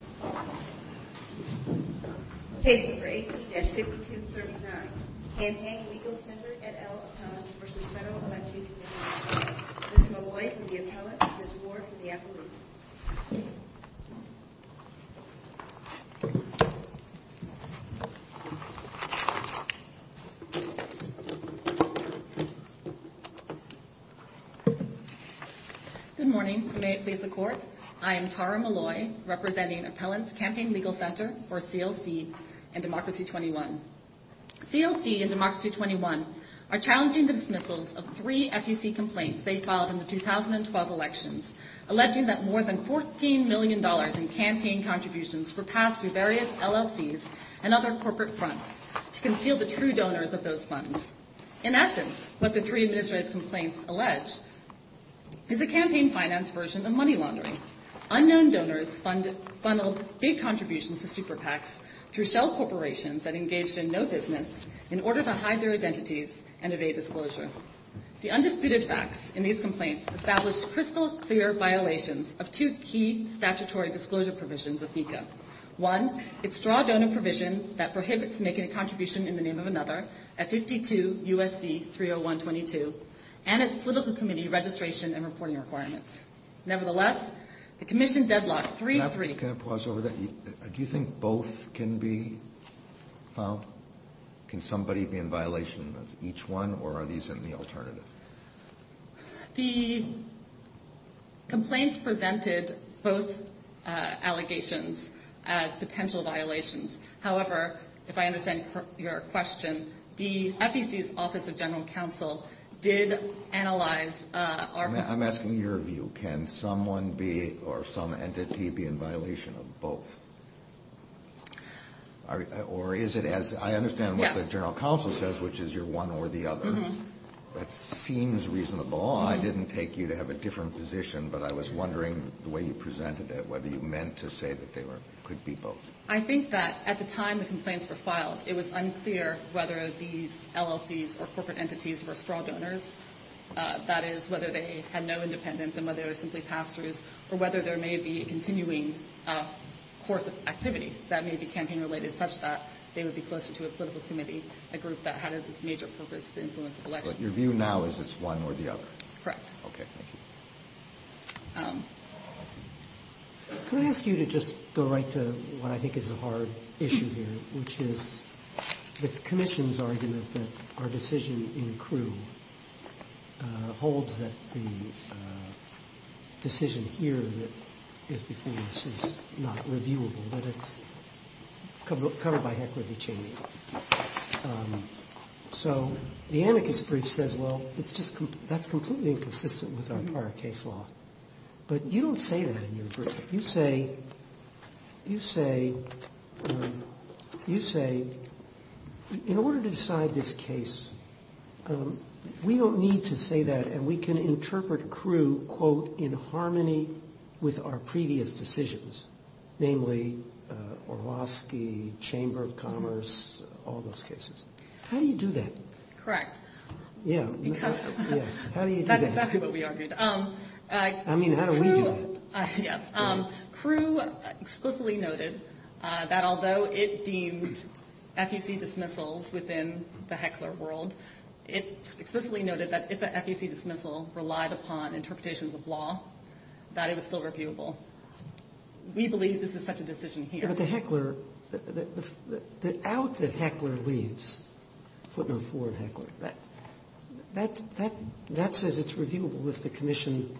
Ms. Malloy and the appellate, Ms. Ward from the Appalooks. Good morning. I am Tara Malloy, representing Appellant's Campaign Legal Center, or CLC, in Democracy 21. CLC and Democracy 21 are challenging the dismissals of three FEC complaints they filed in the 2012 elections, alleging that more than $14 million in campaign contributions were passed through various LLCs and other corporate fronts to conceal the true donors of those funds. In essence, what the three administrative complaints allege is a campaign finance version of money laundering. Unknown donors funneled big contributions to super PACs through shell corporations that engaged in no business in order to hide their identities and evade disclosure. The undisputed facts in these complaints established crystal-clear violations of two key statutory disclosure provisions of NECA. One, its straw-donor provision that prohibits making a contribution in the name of another at 52 U.S.C. 30122, and its political committee registration and reporting requirements. Nevertheless, the commission deadlocked three... Can I pause over that? Do you think both can be filed? Can somebody be in violation of each one, or are these in the alternative? The complaints presented both allegations as potential violations. However, if I understand your question, the FEC's Office of General Counsel did analyze our... I'm asking your view. Can someone be, or some entity be in violation of both? Or is it as... I understand what the General Counsel says, which is you're one or the other. That seems reasonable. I didn't take you to have a different position, but I was wondering the way you presented it, whether you meant to say that they could be both. I think that at the time the complaints were filed, it was unclear whether these LLCs or corporate entities were straw donors. That is, whether they had no independence, and whether they were simply pass-throughs, or whether there may be a continuing course of activity that may be campaign-related, such that they would be closer to a political committee, a group that had as its major purpose to influence elections. But your view now is it's one or the other? Correct. Okay. Thank you. Can I ask you to just go right to what I think is a hard issue here, which is the commission's argument that our decision in Crewe holds that the decision here that is before us is not reviewable, that it's covered by equity chaining. So, the anarchist brief says, well, that's completely inconsistent with our prior case law. But you don't say that in your brief. You say, you say, you say, in order to decide this case, we don't need to say that, and we can interpret Crewe, quote, in harmony with our previous decisions, namely Orlowski, Chamber of Commerce, all those cases. How do you do that? Correct. Yeah. Yes. How do you do that? That's exactly what we argued. I mean, how do we do that? Yes. Crewe explicitly noted that although it deemed FEC dismissals within the Heckler world, it explicitly noted that if the FEC dismissal relied upon interpretations of law, that it was still reviewable. We believe this is such a decision here. Yeah, but the Heckler, the out that Heckler leaves, footnote four in Heckler, that says it's reviewable if the commission,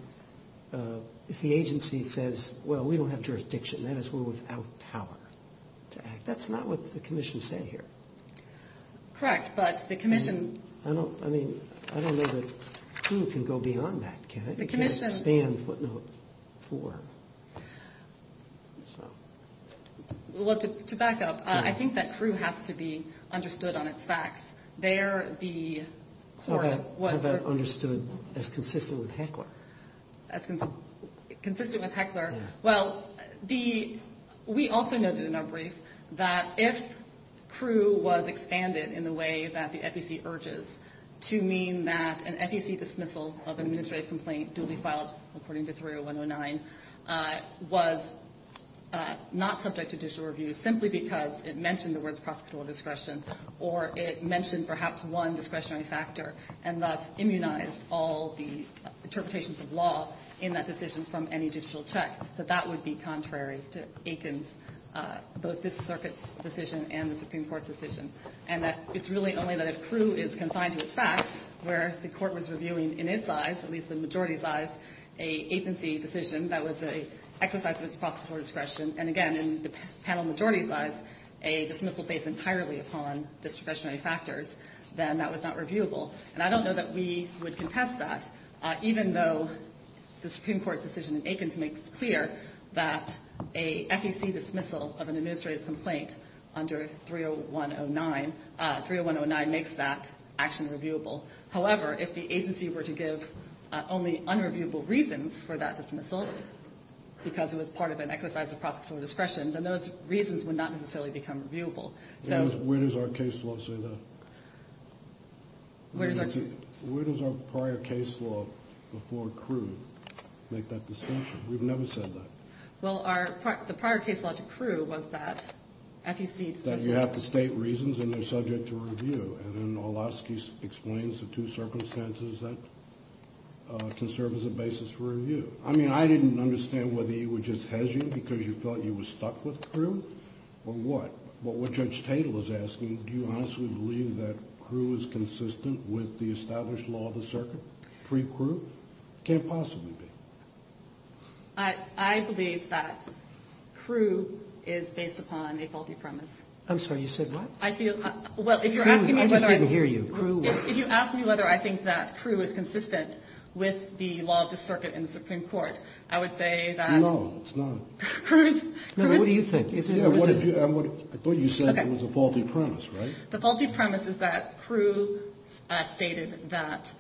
if the agency says, well, we don't have jurisdiction, that is, we're without power to act. That's not what the commission said here. Correct. But the commission... I don't, I mean, I don't know that Crewe can go beyond that, can it? The commission... It can't expand footnote four. So... Well, to back up, I think that Crewe has to be understood on its facts. There, the court was... How about understood as consistent with Heckler? As consistent with Heckler? Well, the, we also noted in our brief that if Crewe was expanded in the way that the FEC urges to mean that an FEC dismissal of an administrative complaint duly filed according to 30109 was not subject to judicial review simply because it mentioned the words discretion, perhaps one discretionary factor, and thus immunized all the interpretations of law in that decision from any judicial check, that that would be contrary to Aiken's, both this circuit's decision and the Supreme Court's decision. And that it's really only that if Crewe is confined to its facts, where the court was reviewing, in its eyes, at least in the majority's eyes, a agency decision that was an exercise of its prosecutorial discretion, and again, in the panel majority's eyes, a dismissal based entirely upon discretionary factors, then that was not reviewable. And I don't know that we would contest that, even though the Supreme Court's decision in Aiken's makes clear that a FEC dismissal of an administrative complaint under 30109, 30109 makes that action reviewable. However, if the agency were to give only unreviewable reasons for that dismissal, because it was part of an exercise of prosecutorial discretion, then those reasons would not necessarily become reviewable. Where does our case law say that? Where does our... Where does our prior case law before Crewe make that distinction? We've never said that. Well, the prior case law to Crewe was that FEC dismissal... That you have to state reasons, and they're subject to review. And Olasky explains the two circumstances that can serve as a basis for review. I mean, I didn't understand whether he would just hedge you because he felt you were stuck with Crewe, or what? But what Judge Tatel is asking, do you honestly believe that Crewe is consistent with the established law of the circuit, pre-Crewe? Can't possibly be. I believe that Crewe is based upon a faulty premise. I'm sorry, you said what? I feel... Well, if you're asking me whether... I just didn't hear you. If you ask me whether I think that Crewe is consistent with the law of the circuit in the Supreme Court, I would say that... No, it's not. Crewe is... No, but what do you think? I thought you said it was a faulty premise, right? The faulty premise is that Crewe stated that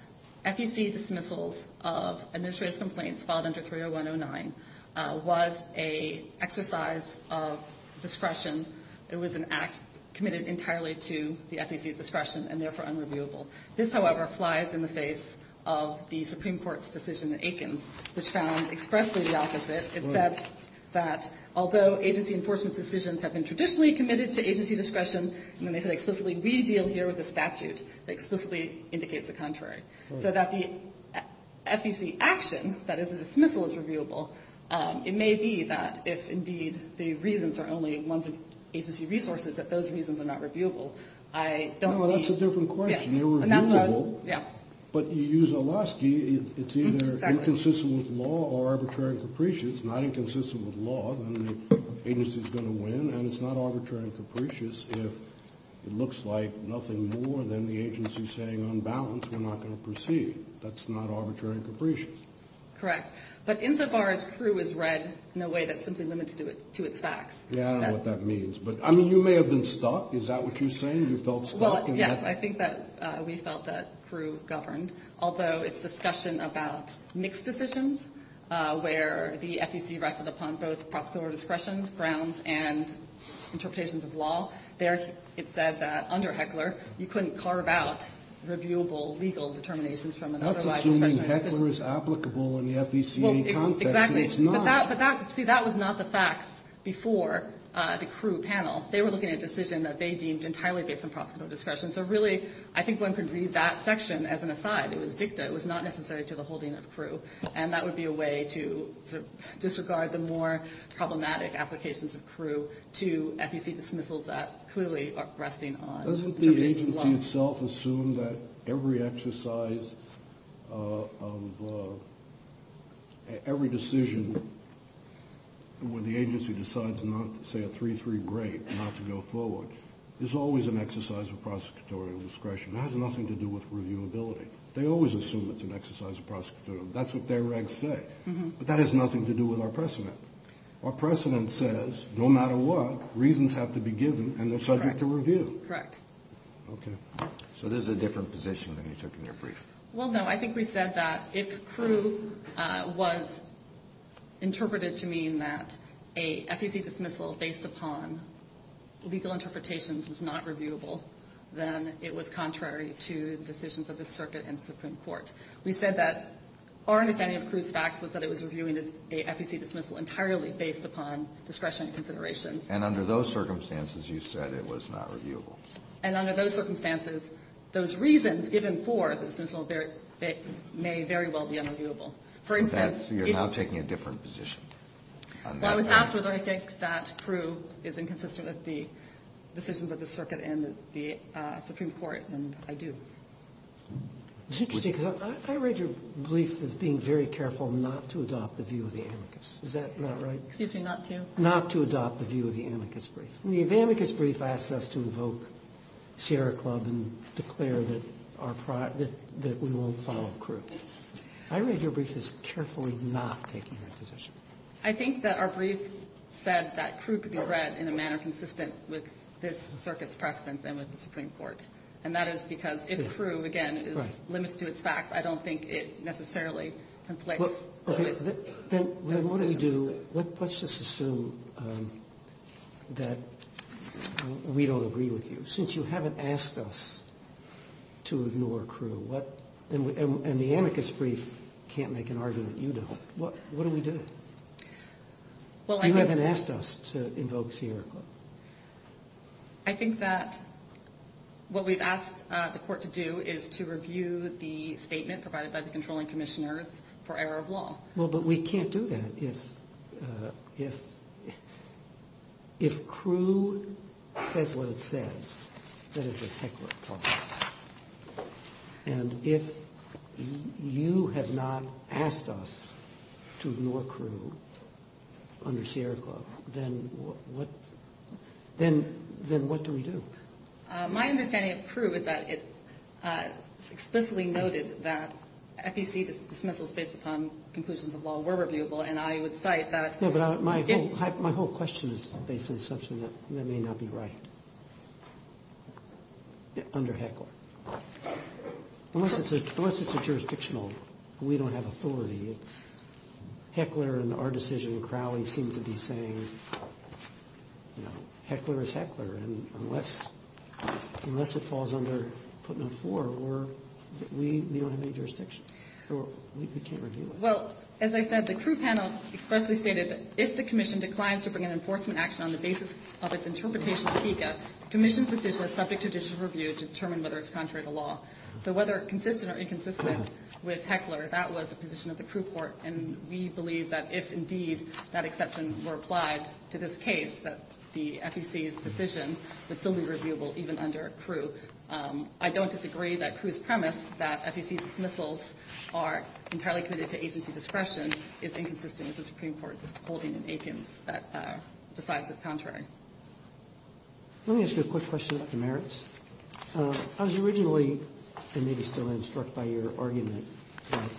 FEC dismissals of administrative complaints filed under 30109 was an exercise of discretion. It was an act committed entirely to the FEC's discretion, and therefore unreviewable. This, however, flies in the face of the Supreme Court's decision in Aikens, which found expressly the opposite. It said that although agency enforcement's decisions have been traditionally committed to agency discretion, and they said explicitly, we deal here with a statute that explicitly indicates the contrary. So that the FEC action, that is a dismissal, is reviewable. It may be that if indeed the reasons are only ones of agency resources, that those reasons are not reviewable. I don't see... No, that's a different question. They're reviewable. Yeah. But you use Olaski. It's either inconsistent with law or arbitrary and capricious. If it's not inconsistent with law, then the agency's going to win. And it's not arbitrary and capricious if it looks like nothing more than the agency's saying, on balance, we're not going to proceed. That's not arbitrary and capricious. Correct. But insofar as Crewe is read in a way that's simply limited to its facts. Yeah, I know what that means. But, I mean, you may have been stuck. Is that what you're saying? You felt stuck? Well, yes. I think that we felt that Crewe governed, although its discussion about mixed decisions, where the FEC rested upon both prosecutorial discretion, grounds, and interpretations of law. There, it said that under Heckler, you couldn't carve out reviewable legal determinations from an otherwise discretionary decision. That's assuming Heckler is applicable in the FECA context. Exactly. But that, see, that was not the facts before the Crewe panel. They were looking at a decision that they deemed entirely based on prosecutorial discretion. So really, I think one could read that section as an aside. It was dicta. It was not necessary to the holding of Crewe. And that would be a way to disregard the more problematic applications of Crewe to FEC dismissals that clearly are resting on interpretations of law. Doesn't the agency itself assume that every exercise of, every decision, when the agency decides not to say a 3-3 grade, not to go forward, is always an exercise of prosecutorial discretion. It has nothing to do with reviewability. They always assume it's an exercise of prosecutorial. That's what their regs say. But that has nothing to do with our precedent. Our precedent says, no matter what, reasons have to be given, and they're subject to review. Correct. Okay. So this is a different position than you took in your brief. Well, no. I think we said that if Crewe was interpreted to mean that a FEC dismissal based upon legal interpretations was not reviewable, then it was contrary to the decisions of the circuit and the Supreme Court. We said that our understanding of Crewe's facts was that it was reviewing a FEC dismissal entirely based upon discretionary considerations. And under those circumstances, you said it was not reviewable. And under those circumstances, those reasons given for the dismissal may very well be unreviewable. For instance, if you're not taking a different position. Well, I was asked whether I think that Crewe is inconsistent with the decisions of the circuit and the Supreme Court, and I do. It's interesting because I read your brief as being very careful not to adopt the view of the amicus. Is that not right? Excuse me, not to? Not to adopt the view of the amicus brief. The amicus brief asks us to evoke Sierra Club and declare that we won't follow Crewe. I read your brief as carefully not taking that position. I think that our brief said that Crewe could be read in a manner consistent with this circuit's precedents and with the Supreme Court. And that is because if Crewe, again, is limited to its facts, I don't think it necessarily conflicts. Okay, then what do we do? Let's just assume that we don't agree with you. Since you haven't asked us to ignore Crewe, and the amicus brief can't make an argument you don't, what do we do? You haven't asked us to invoke Sierra Club. I think that what we've asked the court to do is to review the statement provided by the controlling commissioners for error of law. Well, but we can't do that if Crewe says what it says. That is a feckless clause. And if you have not asked us to ignore Crewe under Sierra Club, then what do we do? My understanding of Crewe is that it's explicitly noted that FEC dismissals based upon conclusions of law were reviewable, and I would cite that. No, but my whole question is based on the assumption that that may not be right under Heckler. Unless it's a jurisdictional, we don't have authority. Heckler and our decision, Crowley, seem to be saying Heckler is Heckler. And unless it falls under footnote four, we don't have any jurisdiction. We can't review it. Well, as I said, the Crewe panel expressly stated that if the commission declines to bring an enforcement action on the basis of its interpretation of FECA, commission's decision is subject to judicial review to determine whether it's contrary to law. So whether consistent or inconsistent with Heckler, that was the position of the Crewe court. And we believe that if indeed that exception were applied to this case, that the FEC's decision would still be reviewable even under Crewe. I don't disagree that Crewe's premise that FEC dismissals are entirely committed to agency discretion is inconsistent with the Supreme Court's holding in Aikens that decides it's contrary. Let me ask you a quick question about the merits. I was originally, and maybe still am, struck by your argument that,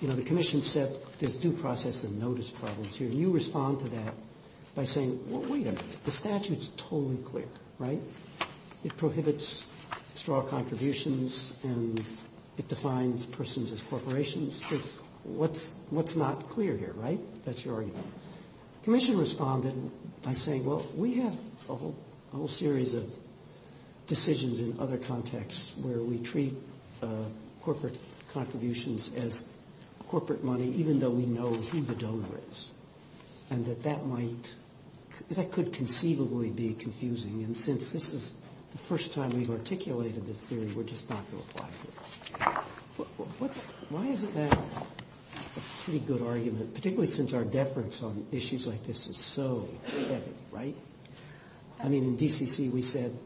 you know, the commission said there's due process and notice problems here. And you respond to that by saying, well, wait a minute. The statute's totally clear, right? It prohibits straw contributions and it defines persons as corporations. What's not clear here, right? That's your argument. Commission responded by saying, well, we have a whole series of decisions in other contexts where we treat corporate contributions as corporate money, even though we know who the donor is. And that that might, that could conceivably be confusing. And since this is the first time we've articulated this theory, we're just not going to apply it here. Why isn't that a pretty good argument? Particularly since our deference on issues like this is so heavy, right? I mean, in DCC we said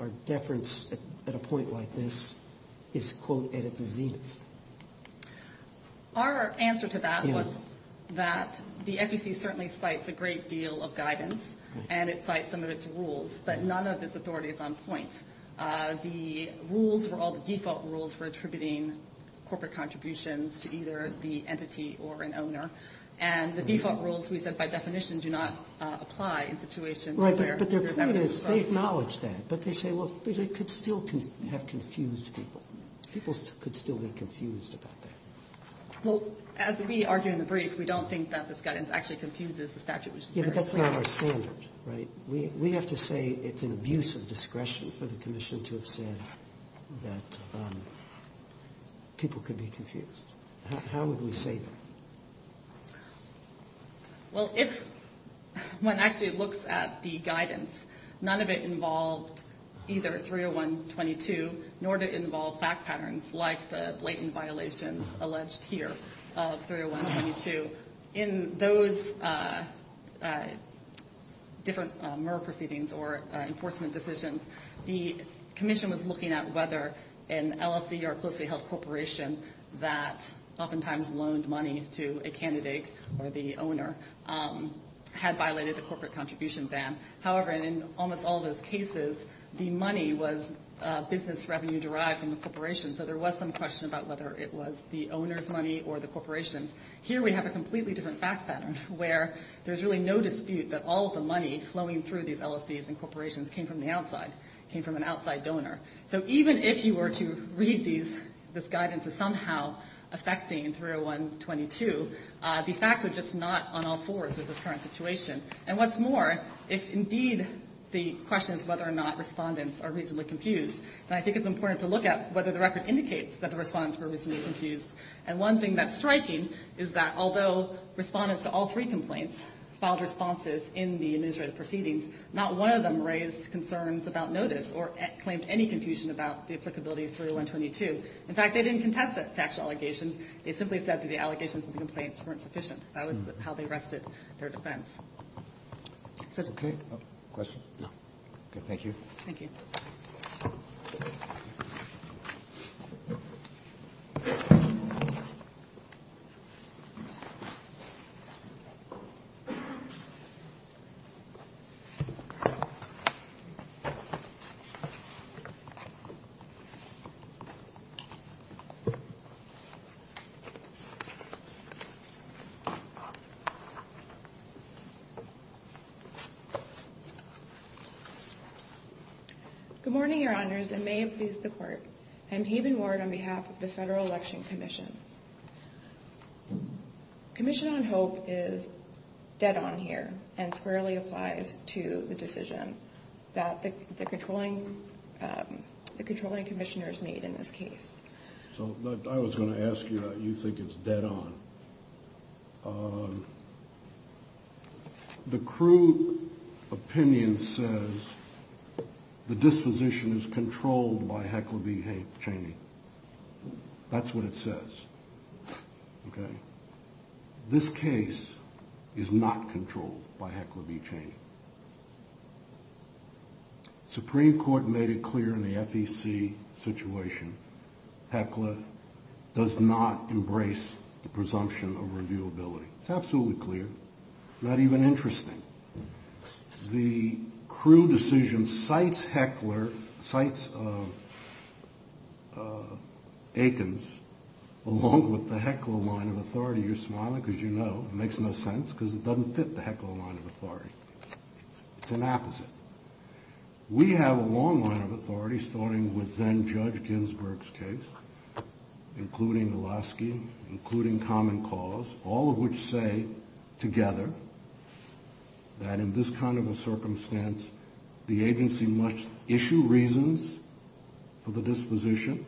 our deference at a point like this is, quote, Our answer to that was that the FEC certainly cites a great deal of guidance and it cites some of its rules, but none of its authority is on point. The rules were all the default rules for attributing corporate contributions to either the entity or an owner. And the default rules, we said by definition, do not apply in situations where Right, but they acknowledge that. But they say, well, it could still have confused people. People could still be confused about that. Well, as we argue in the brief, we don't think that this guidance actually confuses the statute. Yeah, but that's not our standard, right? We have to say it's an abuse of discretion for the commission to have said that people could be confused. How would we say that? Well, if one actually looks at the guidance, none of it involved either 301.22, nor did it involve fact patterns like the blatant violations alleged here of 301.22. In those different MER proceedings or enforcement decisions, the commission was looking at whether an LLC or a closely held corporation that oftentimes loaned money to a candidate or the owner had violated the corporate contribution ban. However, in almost all of those cases, the money was business revenue derived from the corporation. So there was some question about whether it was the owner's money or the corporation's. Here we have a completely different fact pattern where there's really no dispute that all of the money flowing through these LLCs and corporations came from the outside, came from an outside donor. So even if you were to read this guidance as somehow affecting 301.22, the facts are just not on all fours with this current situation. And what's more, if indeed the question is whether or not respondents are reasonably confused, then I think it's important to look at whether the record indicates that the respondents were reasonably confused. And one thing that's striking is that although respondents to all three complaints filed responses in the administrative proceedings, not one of them raised concerns about notice or claimed any confusion about the applicability of 301.22. In fact, they didn't contest the factual allegations. They simply said that the allegations of the complaints weren't sufficient. That was how they rested their defense. Okay. Question? No. Okay. Thank you. Thank you. Good morning, Your Honors, and may it please the Court. I'm Haven Ward on behalf of the Federal Election Commission. Commission on Hope is dead on here and squarely applies to the decision that the controlling commissioners made in this case. So I was going to ask you, you think it's dead on. The crude opinion says the disposition is controlled by Heckler v. Cheney. That's what it says. Okay. This case is not controlled by Heckler v. Cheney. Supreme Court made it clear in the FEC situation Heckler does not embrace the presumption of reviewability. It's absolutely clear, not even interesting. The crude decision cites Heckler, cites Aikens, along with the Heckler line of authority. You're smiling because you know it makes no sense because it doesn't fit the Heckler line of authority. It's an opposite. We have a long line of authority starting with then-Judge Ginsburg's case, including Velosky, including common cause, all of which say together that in this kind of a circumstance, the agency must issue reasons for the disposition,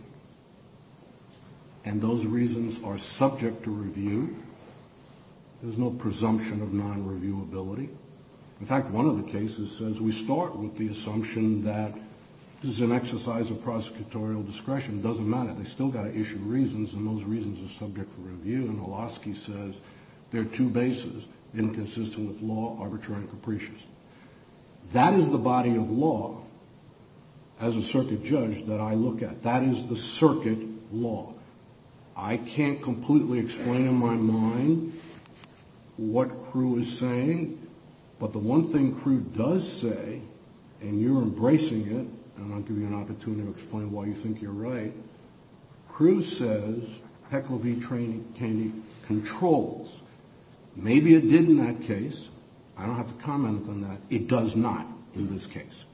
and those reasons are subject to review. There's no presumption of non-reviewability. In fact, one of the cases says we start with the assumption that this is an exercise of prosecutorial discretion. It doesn't matter. They still got to issue reasons, and those reasons are subject for review. And Velosky says there are two bases, inconsistent with law, arbitrary and capricious. That is the body of law, as a circuit judge, that I look at. That is the circuit law. I can't completely explain in my mind what Crewe is saying, but the one thing Crewe does say, and you're embracing it, and I'll give you an opportunity to explain why you think you're right, Crewe says Heckler v. Cheney controls. Maybe it did in that case. I don't have to comment on that. It does not in this case.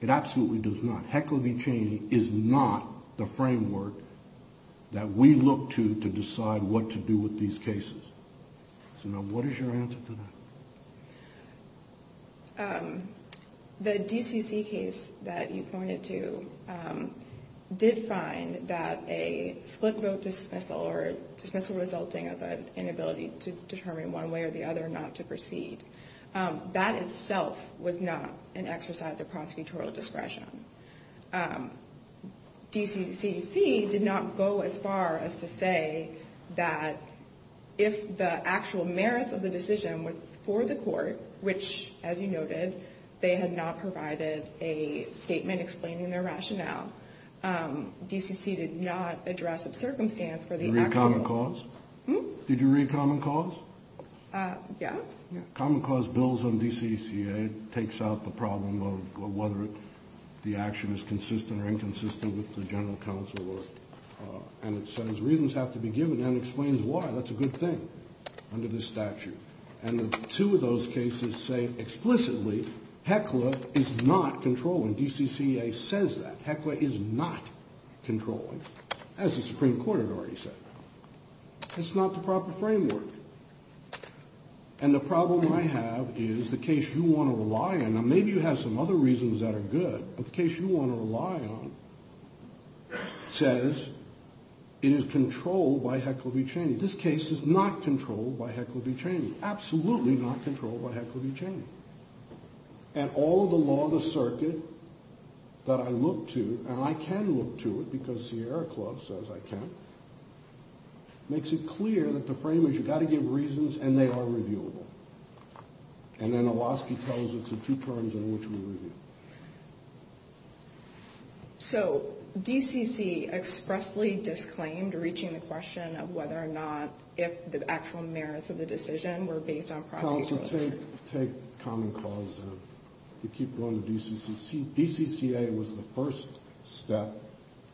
It absolutely does not. Heckler v. Cheney is not the framework that we look to to decide what to do with these cases. So now what is your answer to that? The DCC case that you pointed to did find that a split vote dismissal or dismissal resulting of an inability to determine one way or the other not to proceed, that itself was not an exercise of prosecutorial discretion. DCC did not go as far as to say that if the actual merits of the decision was for the court, which, as you noted, they had not provided a statement explaining their rationale, DCC did not address a circumstance for the actual. Did you read Common Cause? Yeah. Common Cause bills on DCCA takes out the problem of whether the action is consistent or inconsistent with the general counsel, and it says reasons have to be given and explains why. That's a good thing under this statute. And the two of those cases say explicitly Heckler is not controlling. DCCA says that. Heckler is not controlling, as the Supreme Court had already said. It's not the proper framework. And the problem I have is the case you want to rely on, and maybe you have some other reasons that are good, but the case you want to rely on says it is controlled by Heckler v. Cheney. This case is not controlled by Heckler v. Cheney, absolutely not controlled by Heckler v. Cheney. And all of the law of the circuit that I look to, and I can look to it because Sierra Club says I can, makes it clear that the frame is you've got to give reasons, and they are reviewable. And then Awoski tells us the two terms in which we review. So DCC expressly disclaimed reaching the question of whether or not if the actual merits of the decision were based on prosecution. Counsel, take Common Cause down. You keep going to DCCC. DCCA was the first step.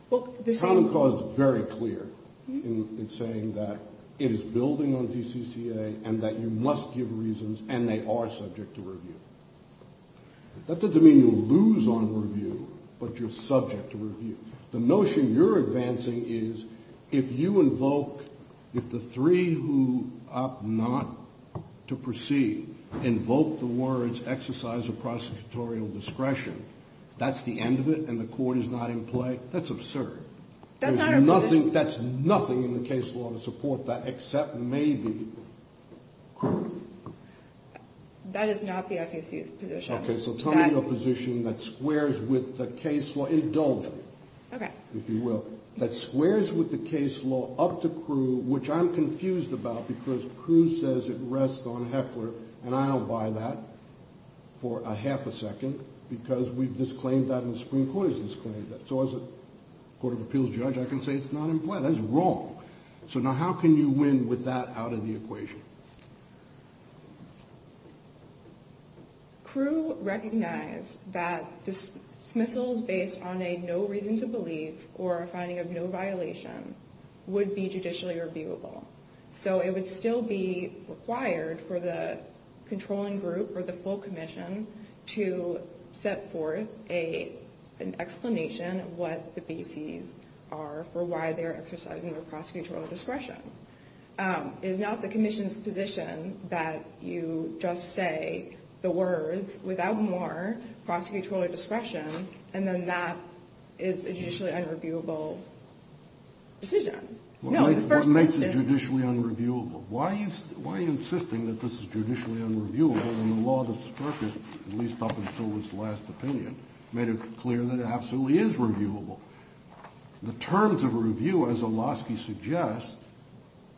Common Cause is very clear in saying that it is building on DCCA and that you must give reasons and they are subject to review. That doesn't mean you lose on review, but you're subject to review. The notion you're advancing is if you invoke, if the three who opt not to proceed invoke the words exercise of prosecutorial discretion, that's the end of it and the court is not in play? That's absurd. That's not a position. That's nothing in the case law to support that except maybe. That is not the FCC's position. Okay, so tell me a position that squares with the case law. Indulge me, if you will. A position that squares with the case law up to Crewe, which I'm confused about because Crewe says it rests on Heckler, and I don't buy that for a half a second because we've disclaimed that and the Supreme Court has disclaimed that. So as a Court of Appeals judge, I can say it's not in play. That's wrong. So now how can you win with that out of the equation? Crewe recognized that dismissals based on a no reason to believe or a finding of no violation would be judicially reviewable. So it would still be required for the controlling group or the full commission to set forth an explanation of what the bases are for why they're exercising their prosecutorial discretion. It is not the commission's position that you just say the words, without more prosecutorial discretion, and then that is a judicially unreviewable decision. What makes it judicially unreviewable? Why are you insisting that this is judicially unreviewable when the law that supports it, at least up until its last opinion, made it clear that it absolutely is reviewable? The terms of a review, as Olosky suggests,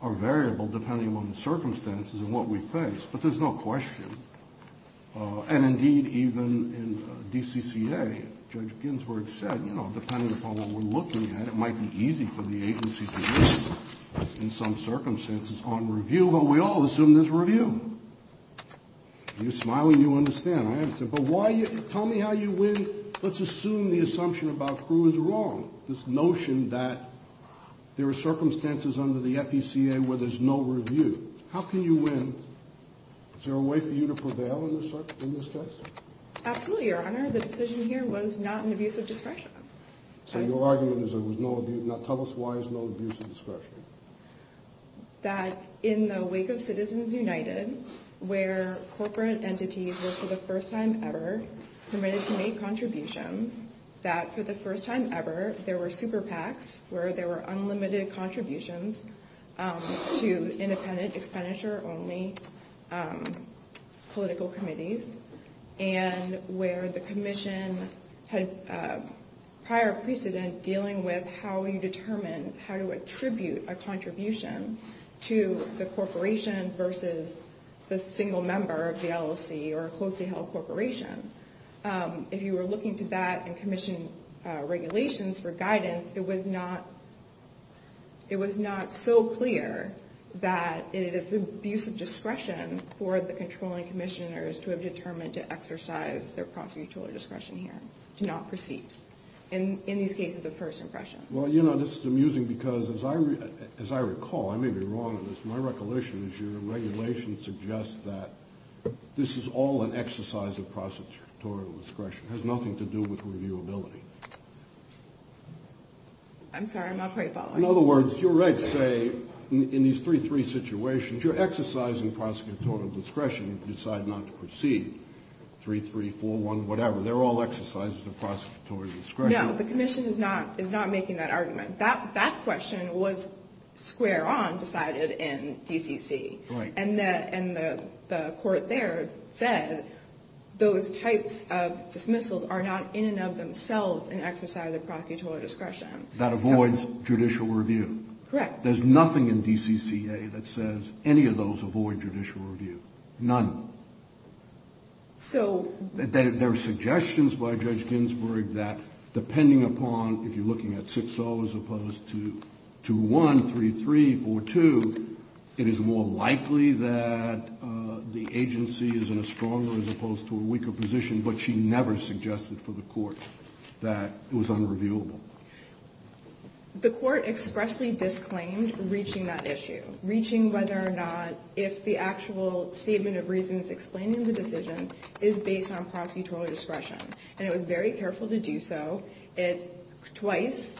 are variable depending on the circumstances and what we face, but there's no question. And indeed, even in DCCA, Judge Ginsburg said, you know, depending upon what we're looking at, it might be easy for the agency to win in some circumstances on review, but we all assume there's review. You're smiling, you understand. But tell me how you win. Let's assume the assumption about who is wrong, this notion that there are circumstances under the FECA where there's no review. How can you win? Is there a way for you to prevail in this case? Absolutely, Your Honor. The decision here was not an abuse of discretion. So your argument is there was no abuse. Now tell us why there's no abuse of discretion. That in the wake of Citizens United, where corporate entities were, for the first time ever, permitted to make contributions, that for the first time ever there were super PACs, where there were unlimited contributions to independent expenditure-only political committees, and where the commission had prior precedent dealing with how you determine how to attribute a contribution to the corporation versus the single member of the LOC or a closely held corporation. If you were looking to that and commission regulations for guidance, it was not so clear that it is an abuse of discretion for the controlling commissioners to have determined to exercise their prosecutorial discretion here, to not proceed, in these cases of first impression. Well, you know, this is amusing because, as I recall, I may be wrong on this, my recollection is your regulation suggests that this is all an exercise of prosecutorial discretion. It has nothing to do with reviewability. I'm sorry, I'm not quite following. In other words, you're right to say in these 3-3 situations, you're exercising prosecutorial discretion to decide not to proceed, 3-3, 4-1, whatever. They're all exercises of prosecutorial discretion. No, the commission is not making that argument. That question was square on decided in DCC. Right. And the court there said those types of dismissals are not in and of themselves an exercise of prosecutorial discretion. That avoids judicial review. Correct. There's nothing in DCCA that says any of those avoid judicial review. None. So... There are suggestions by Judge Ginsburg that depending upon, if you're looking at 6-0 as opposed to 2-1, 3-3, 4-2, it is more likely that the agency is in a stronger as opposed to a weaker position, but she never suggested for the court that it was unreviewable. The court expressly disclaimed reaching that issue, reaching whether or not, if the actual statement of reasons explaining the decision is based on prosecutorial discretion. And it was very careful to do so. It twice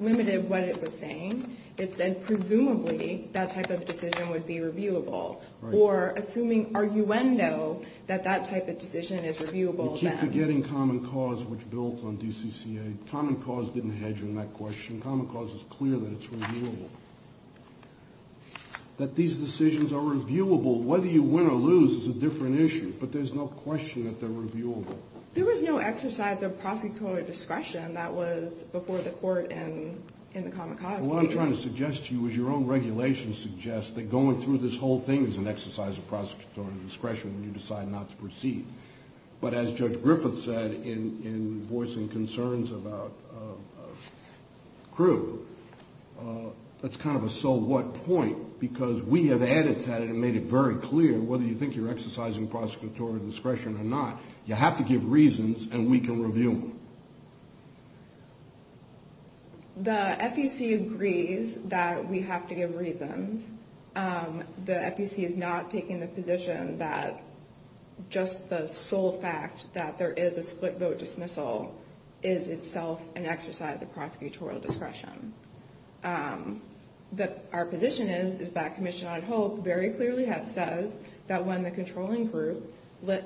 limited what it was saying. It said presumably that type of decision would be reviewable. Right. Or assuming arguendo that that type of decision is reviewable then. You keep forgetting common cause, which built on DCCA. Common cause didn't hedge in that question. Common cause is clear that it's reviewable. That these decisions are reviewable, whether you win or lose is a different issue, but there's no question that they're reviewable. There was no exercise of prosecutorial discretion that was before the court and in the common cause. What I'm trying to suggest to you is your own regulations suggest that going through this whole thing is an exercise of prosecutorial discretion when you decide not to proceed. But as Judge Griffith said, in voicing concerns about Crewe, that's kind of a so what point because we have added to that and made it very clear whether you think you're exercising prosecutorial discretion or not. You have to give reasons and we can review them. The FEC agrees that we have to give reasons. The FEC is not taking the position that just the sole fact that there is a split vote dismissal is itself an exercise of prosecutorial discretion. Our position is that Commission on Hope very clearly says that when the controlling group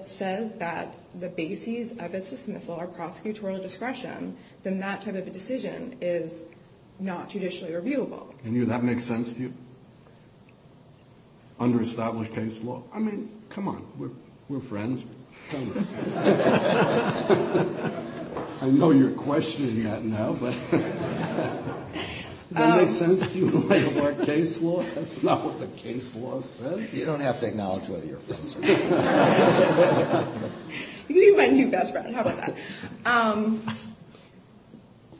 says that the basis of its dismissal are prosecutorial discretion, then that type of a decision is not judicially reviewable. And that makes sense to you? Under established case law? I mean, come on. We're friends. I know you're questioning that now. Does that make sense to you? Under our case law? That's not what the case law says. You don't have to acknowledge whether you're friends or not. You can be my new best friend. How about that?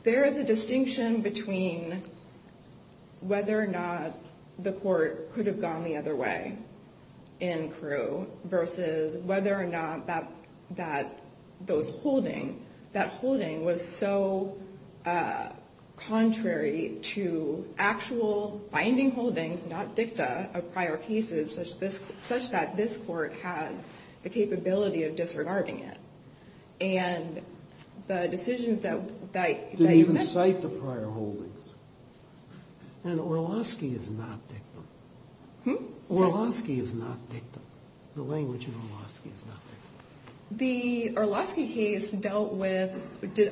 There is a distinction between whether or not the court could have gone the other way in Crewe versus whether or not that holding was so contrary to actual binding holdings, not dicta, of prior cases such that this Court has the capability of disregarding it. And the decisions that you make... Didn't even cite the prior holdings. And Orlosky is not dicta. Orlosky is not dicta. The language in Orlosky is not dicta. The Orlosky case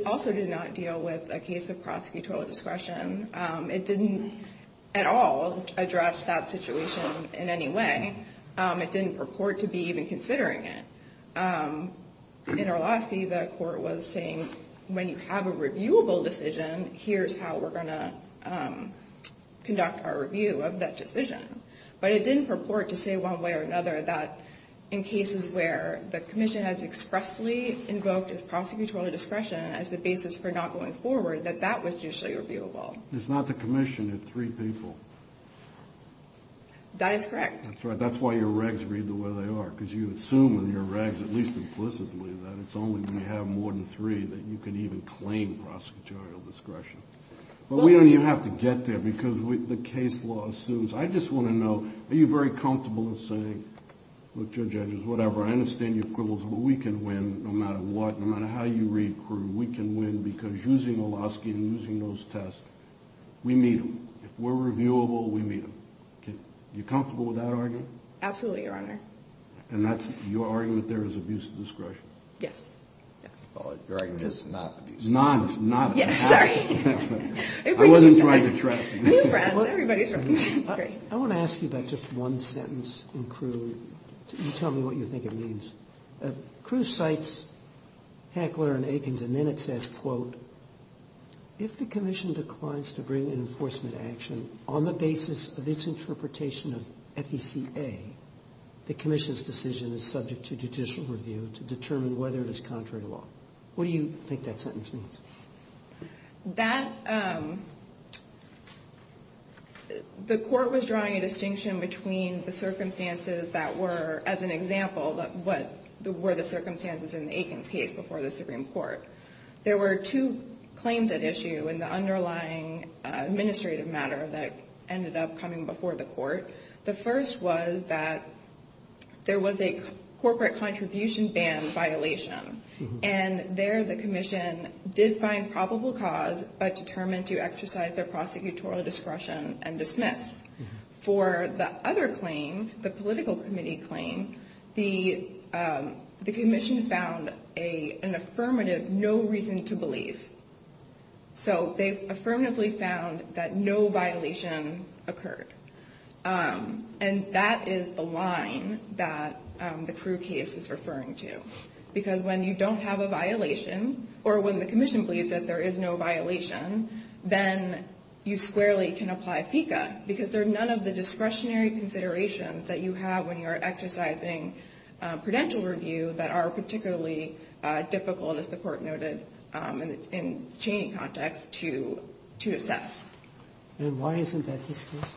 also did not deal with a case of prosecutorial discretion. It didn't at all address that situation in any way. It didn't purport to be even considering it. In Orlosky, the court was saying, when you have a reviewable decision, here's how we're going to conduct our review of that decision. But it didn't purport to say one way or another that in cases where the Commission has expressly invoked its prosecutorial discretion as the basis for not going forward, that that was usually reviewable. It's not the Commission. They're three people. That is correct. That's right. That's why your regs read the way they are, because you assume in your regs, at least implicitly, that it's only when you have more than three that you can even claim prosecutorial discretion. But we don't even have to get there, because the case law assumes. I just want to know, are you very comfortable in saying, look, Judge Edgars, whatever, I understand your quibbles, but we can win no matter what, no matter how you recruit. We can win because using Orlosky and using those tests, we meet them. If we're reviewable, we meet them. Are you comfortable with that argument? Absolutely, Your Honor. And that's your argument there is abuse of discretion? Yes. Your argument is not abuse of discretion. Not, not. Sorry. I wasn't trying to trap you. Everybody's right. I want to ask you about just one sentence in Crewe. Tell me what you think it means. Crewe cites Heckler and Aikens, and then it says, quote, if the Commission declines to bring an enforcement action on the basis of its interpretation of FECA, the Commission's decision is subject to judicial review to determine whether it is contrary to law. What do you think that sentence means? That, the Court was drawing a distinction between the circumstances that were, as an example, what were the circumstances in the Aikens case before the Supreme Court. There were two claims at issue in the underlying administrative matter that ended up coming before the Court. The first was that there was a corporate contribution ban violation, and there the Commission did find probable cause, but determined to exercise their prosecutorial discretion and dismiss. For the other claim, the political committee claim, the Commission found an affirmative no reason to believe. So they affirmatively found that no violation occurred. And that is the line that the Crewe case is referring to, because when you don't have a violation, or when the Commission believes that there is no violation, then you squarely can apply FECA, because there are none of the discretionary considerations that you have when you are exercising prudential review that are particularly difficult, as the Court noted, in the Cheney context, to assess. And why isn't that this case?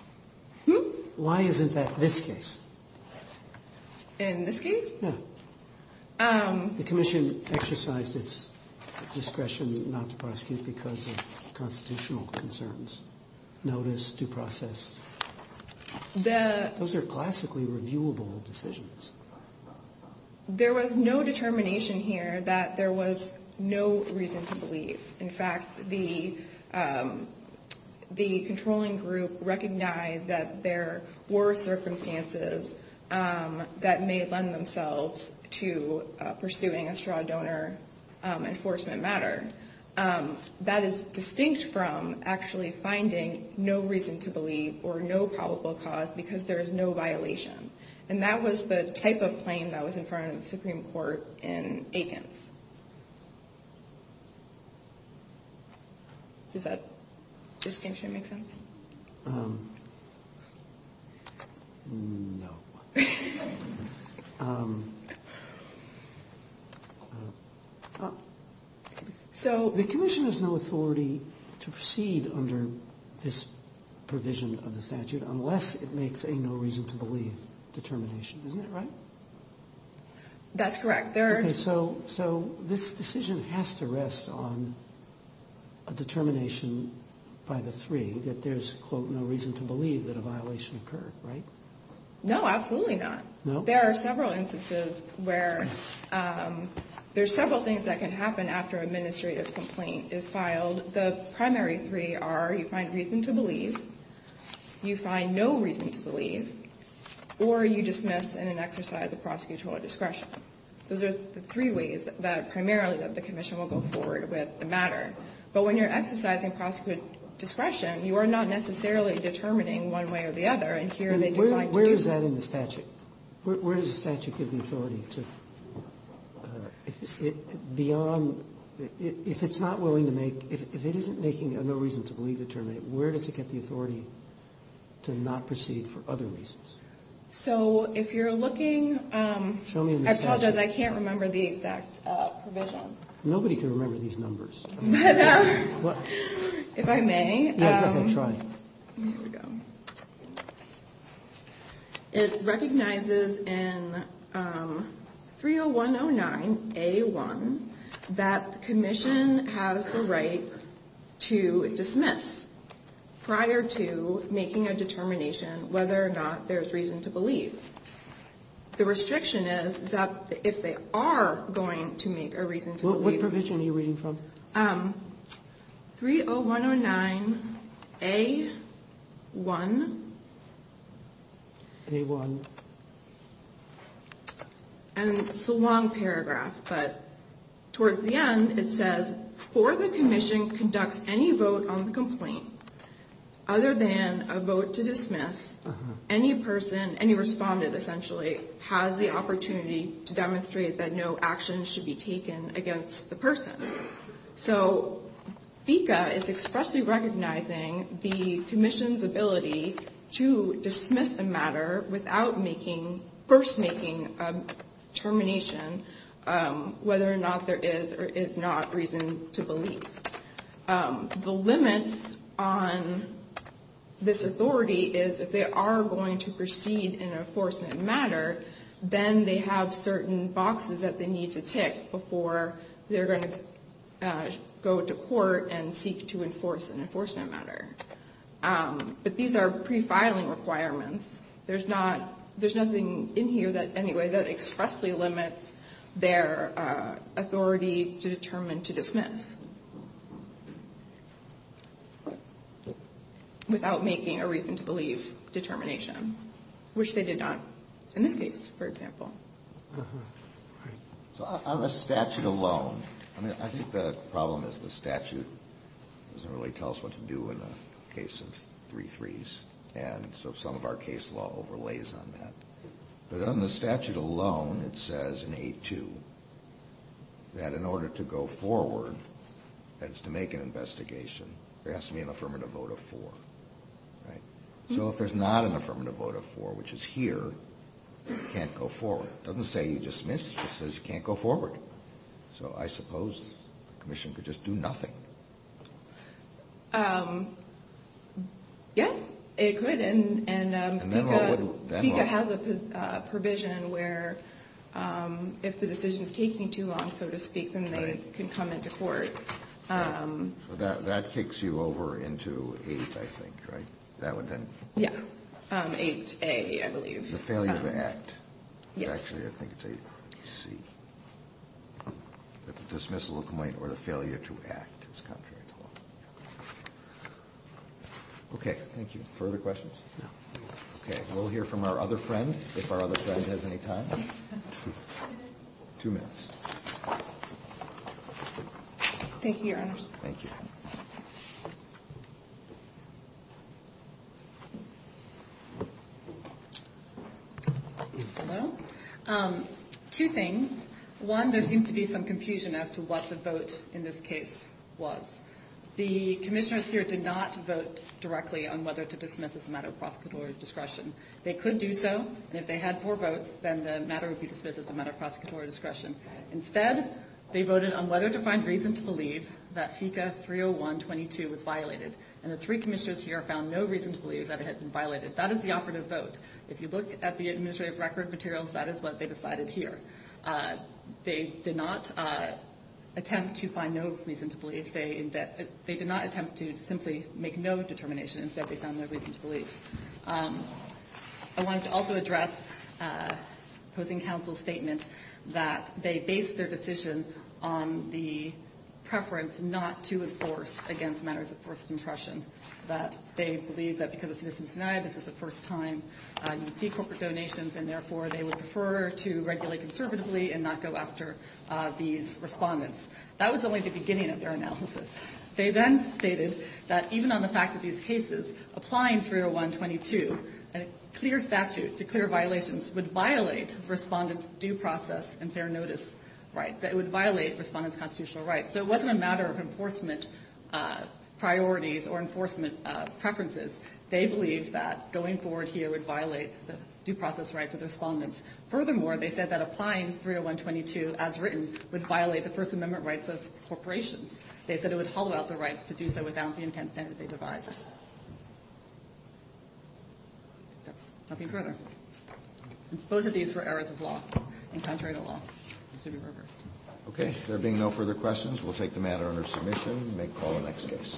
Hmm? Why isn't that this case? In this case? Yeah. The Commission exercised its discretion not to prosecute because of constitutional concerns. Notice, due process. Those are classically reviewable decisions. There was no determination here that there was no reason to believe. In fact, the controlling group recognized that there were circumstances that may lend themselves to pursuing a straw donor enforcement matter. That is distinct from actually finding no reason to believe or no probable cause because there is no violation. And that was the type of claim that was in front of the Supreme Court in Aikens. Does that distinction make sense? No. So the Commission has no authority to proceed under this provision of the statute unless it makes a no reason to believe determination. Isn't that right? That's correct. Okay, so this decision has to rest on a determination by the three that there's, quote, no reason to believe that a violation occurred, right? No, absolutely not. No? There are several instances where there's several things that can happen after an administrative complaint is filed. The primary three are you find reason to believe, you find no reason to believe, or you dismiss in an exercise of prosecutorial discretion. Those are the three ways that primarily that the Commission will go forward with the matter. But when you're exercising prosecutorial discretion, you are not necessarily determining one way or the other. And here they define to do that. Where is that in the statute? Where does the statute give the authority to, beyond, if it's not willing to make if it isn't making a no reason to believe determination, where does it get the authority to not proceed for other reasons? So if you're looking, I apologize, I can't remember the exact provision. Nobody can remember these numbers. If I may. Try. Here we go. It recognizes in 30109A1 that the Commission has the right to dismiss prior to making a determination whether or not there's reason to believe. The restriction is that if they are going to make a reason to believe. What provision are you reading from? 30109A1. A1. And it's a long paragraph, but towards the end it says, for the Commission conducts any vote on the complaint other than a vote to dismiss, any person, any respondent essentially, has the opportunity to demonstrate that no action should be taken against the person. So FECA is expressly recognizing the Commission's ability to dismiss a matter without making, first making a determination whether or not there is or is not reason to believe. The limits on this authority is if they are going to proceed in an enforcement matter, then they have certain boxes that they need to tick before they're going to go to court and seek to enforce an enforcement matter. But these are prefiling requirements. There's nothing in here that expressly limits their authority to determine to dismiss. Without making a reason to believe determination, which they did not in this case, for example. So on the statute alone, I think the problem is the statute doesn't really tell us what to do in a case of 3-3s. And so some of our case law overlays on that. But on the statute alone, it says in 8-2 that in order to go forward, that is to make an investigation, there has to be an affirmative vote of 4. So if there's not an affirmative vote of 4, which is here, you can't go forward. It doesn't say you dismiss, it just says you can't go forward. So I suppose the Commission could just do nothing. Yeah, it could. And FECA has a provision where if the decision is taking too long, so to speak, then they can come into court. So that kicks you over into 8, I think, right? Yeah, 8-A, I believe. The failure to act. Yes. Actually, I think it's 8-C. The dismissal complaint or the failure to act is contrary to law. Okay, thank you. Further questions? No. Okay, we'll hear from our other friend, if our other friend has any time. Two minutes. Two minutes. Thank you, Your Honors. Thank you. Hello. Two things. One, there seems to be some confusion as to what the vote in this case was. The commissioners here did not vote directly on whether to dismiss as a matter of prosecutorial discretion. They could do so, and if they had four votes, then the matter would be dismissed as a matter of prosecutorial discretion. Instead, they voted on whether to find reason to believe that FICA 301.22 was violated, and the three commissioners here found no reason to believe that it had been violated. That is the operative vote. If you look at the administrative record materials, that is what they decided here. They did not attempt to find no reason to believe. They did not attempt to simply make no determination. Instead, they found no reason to believe. I want to also address opposing counsel's statement that they based their decision on the preference not to enforce against matters of first impression, that they believe that because of Citizens United, this was the first time you would see corporate donations, and, therefore, they would prefer to regulate conservatively and not go after these respondents. That was only the beginning of their analysis. They then stated that even on the fact that these cases, applying 301.22, a clear statute to clear violations would violate Respondent's due process and fair notice rights. It would violate Respondent's constitutional rights. So it wasn't a matter of enforcement priorities or enforcement preferences. They believed that going forward here would violate the due process rights of the Respondents. Furthermore, they said that applying 301.22 as written would violate the First Amendment rights of corporations. They said it would hollow out the rights to do so without the intent that they devised. That's nothing further. Both of these were errors of law and contrary to law. This should be reversed. Okay. There being no further questions, we'll take the matter under submission and make call on the next case.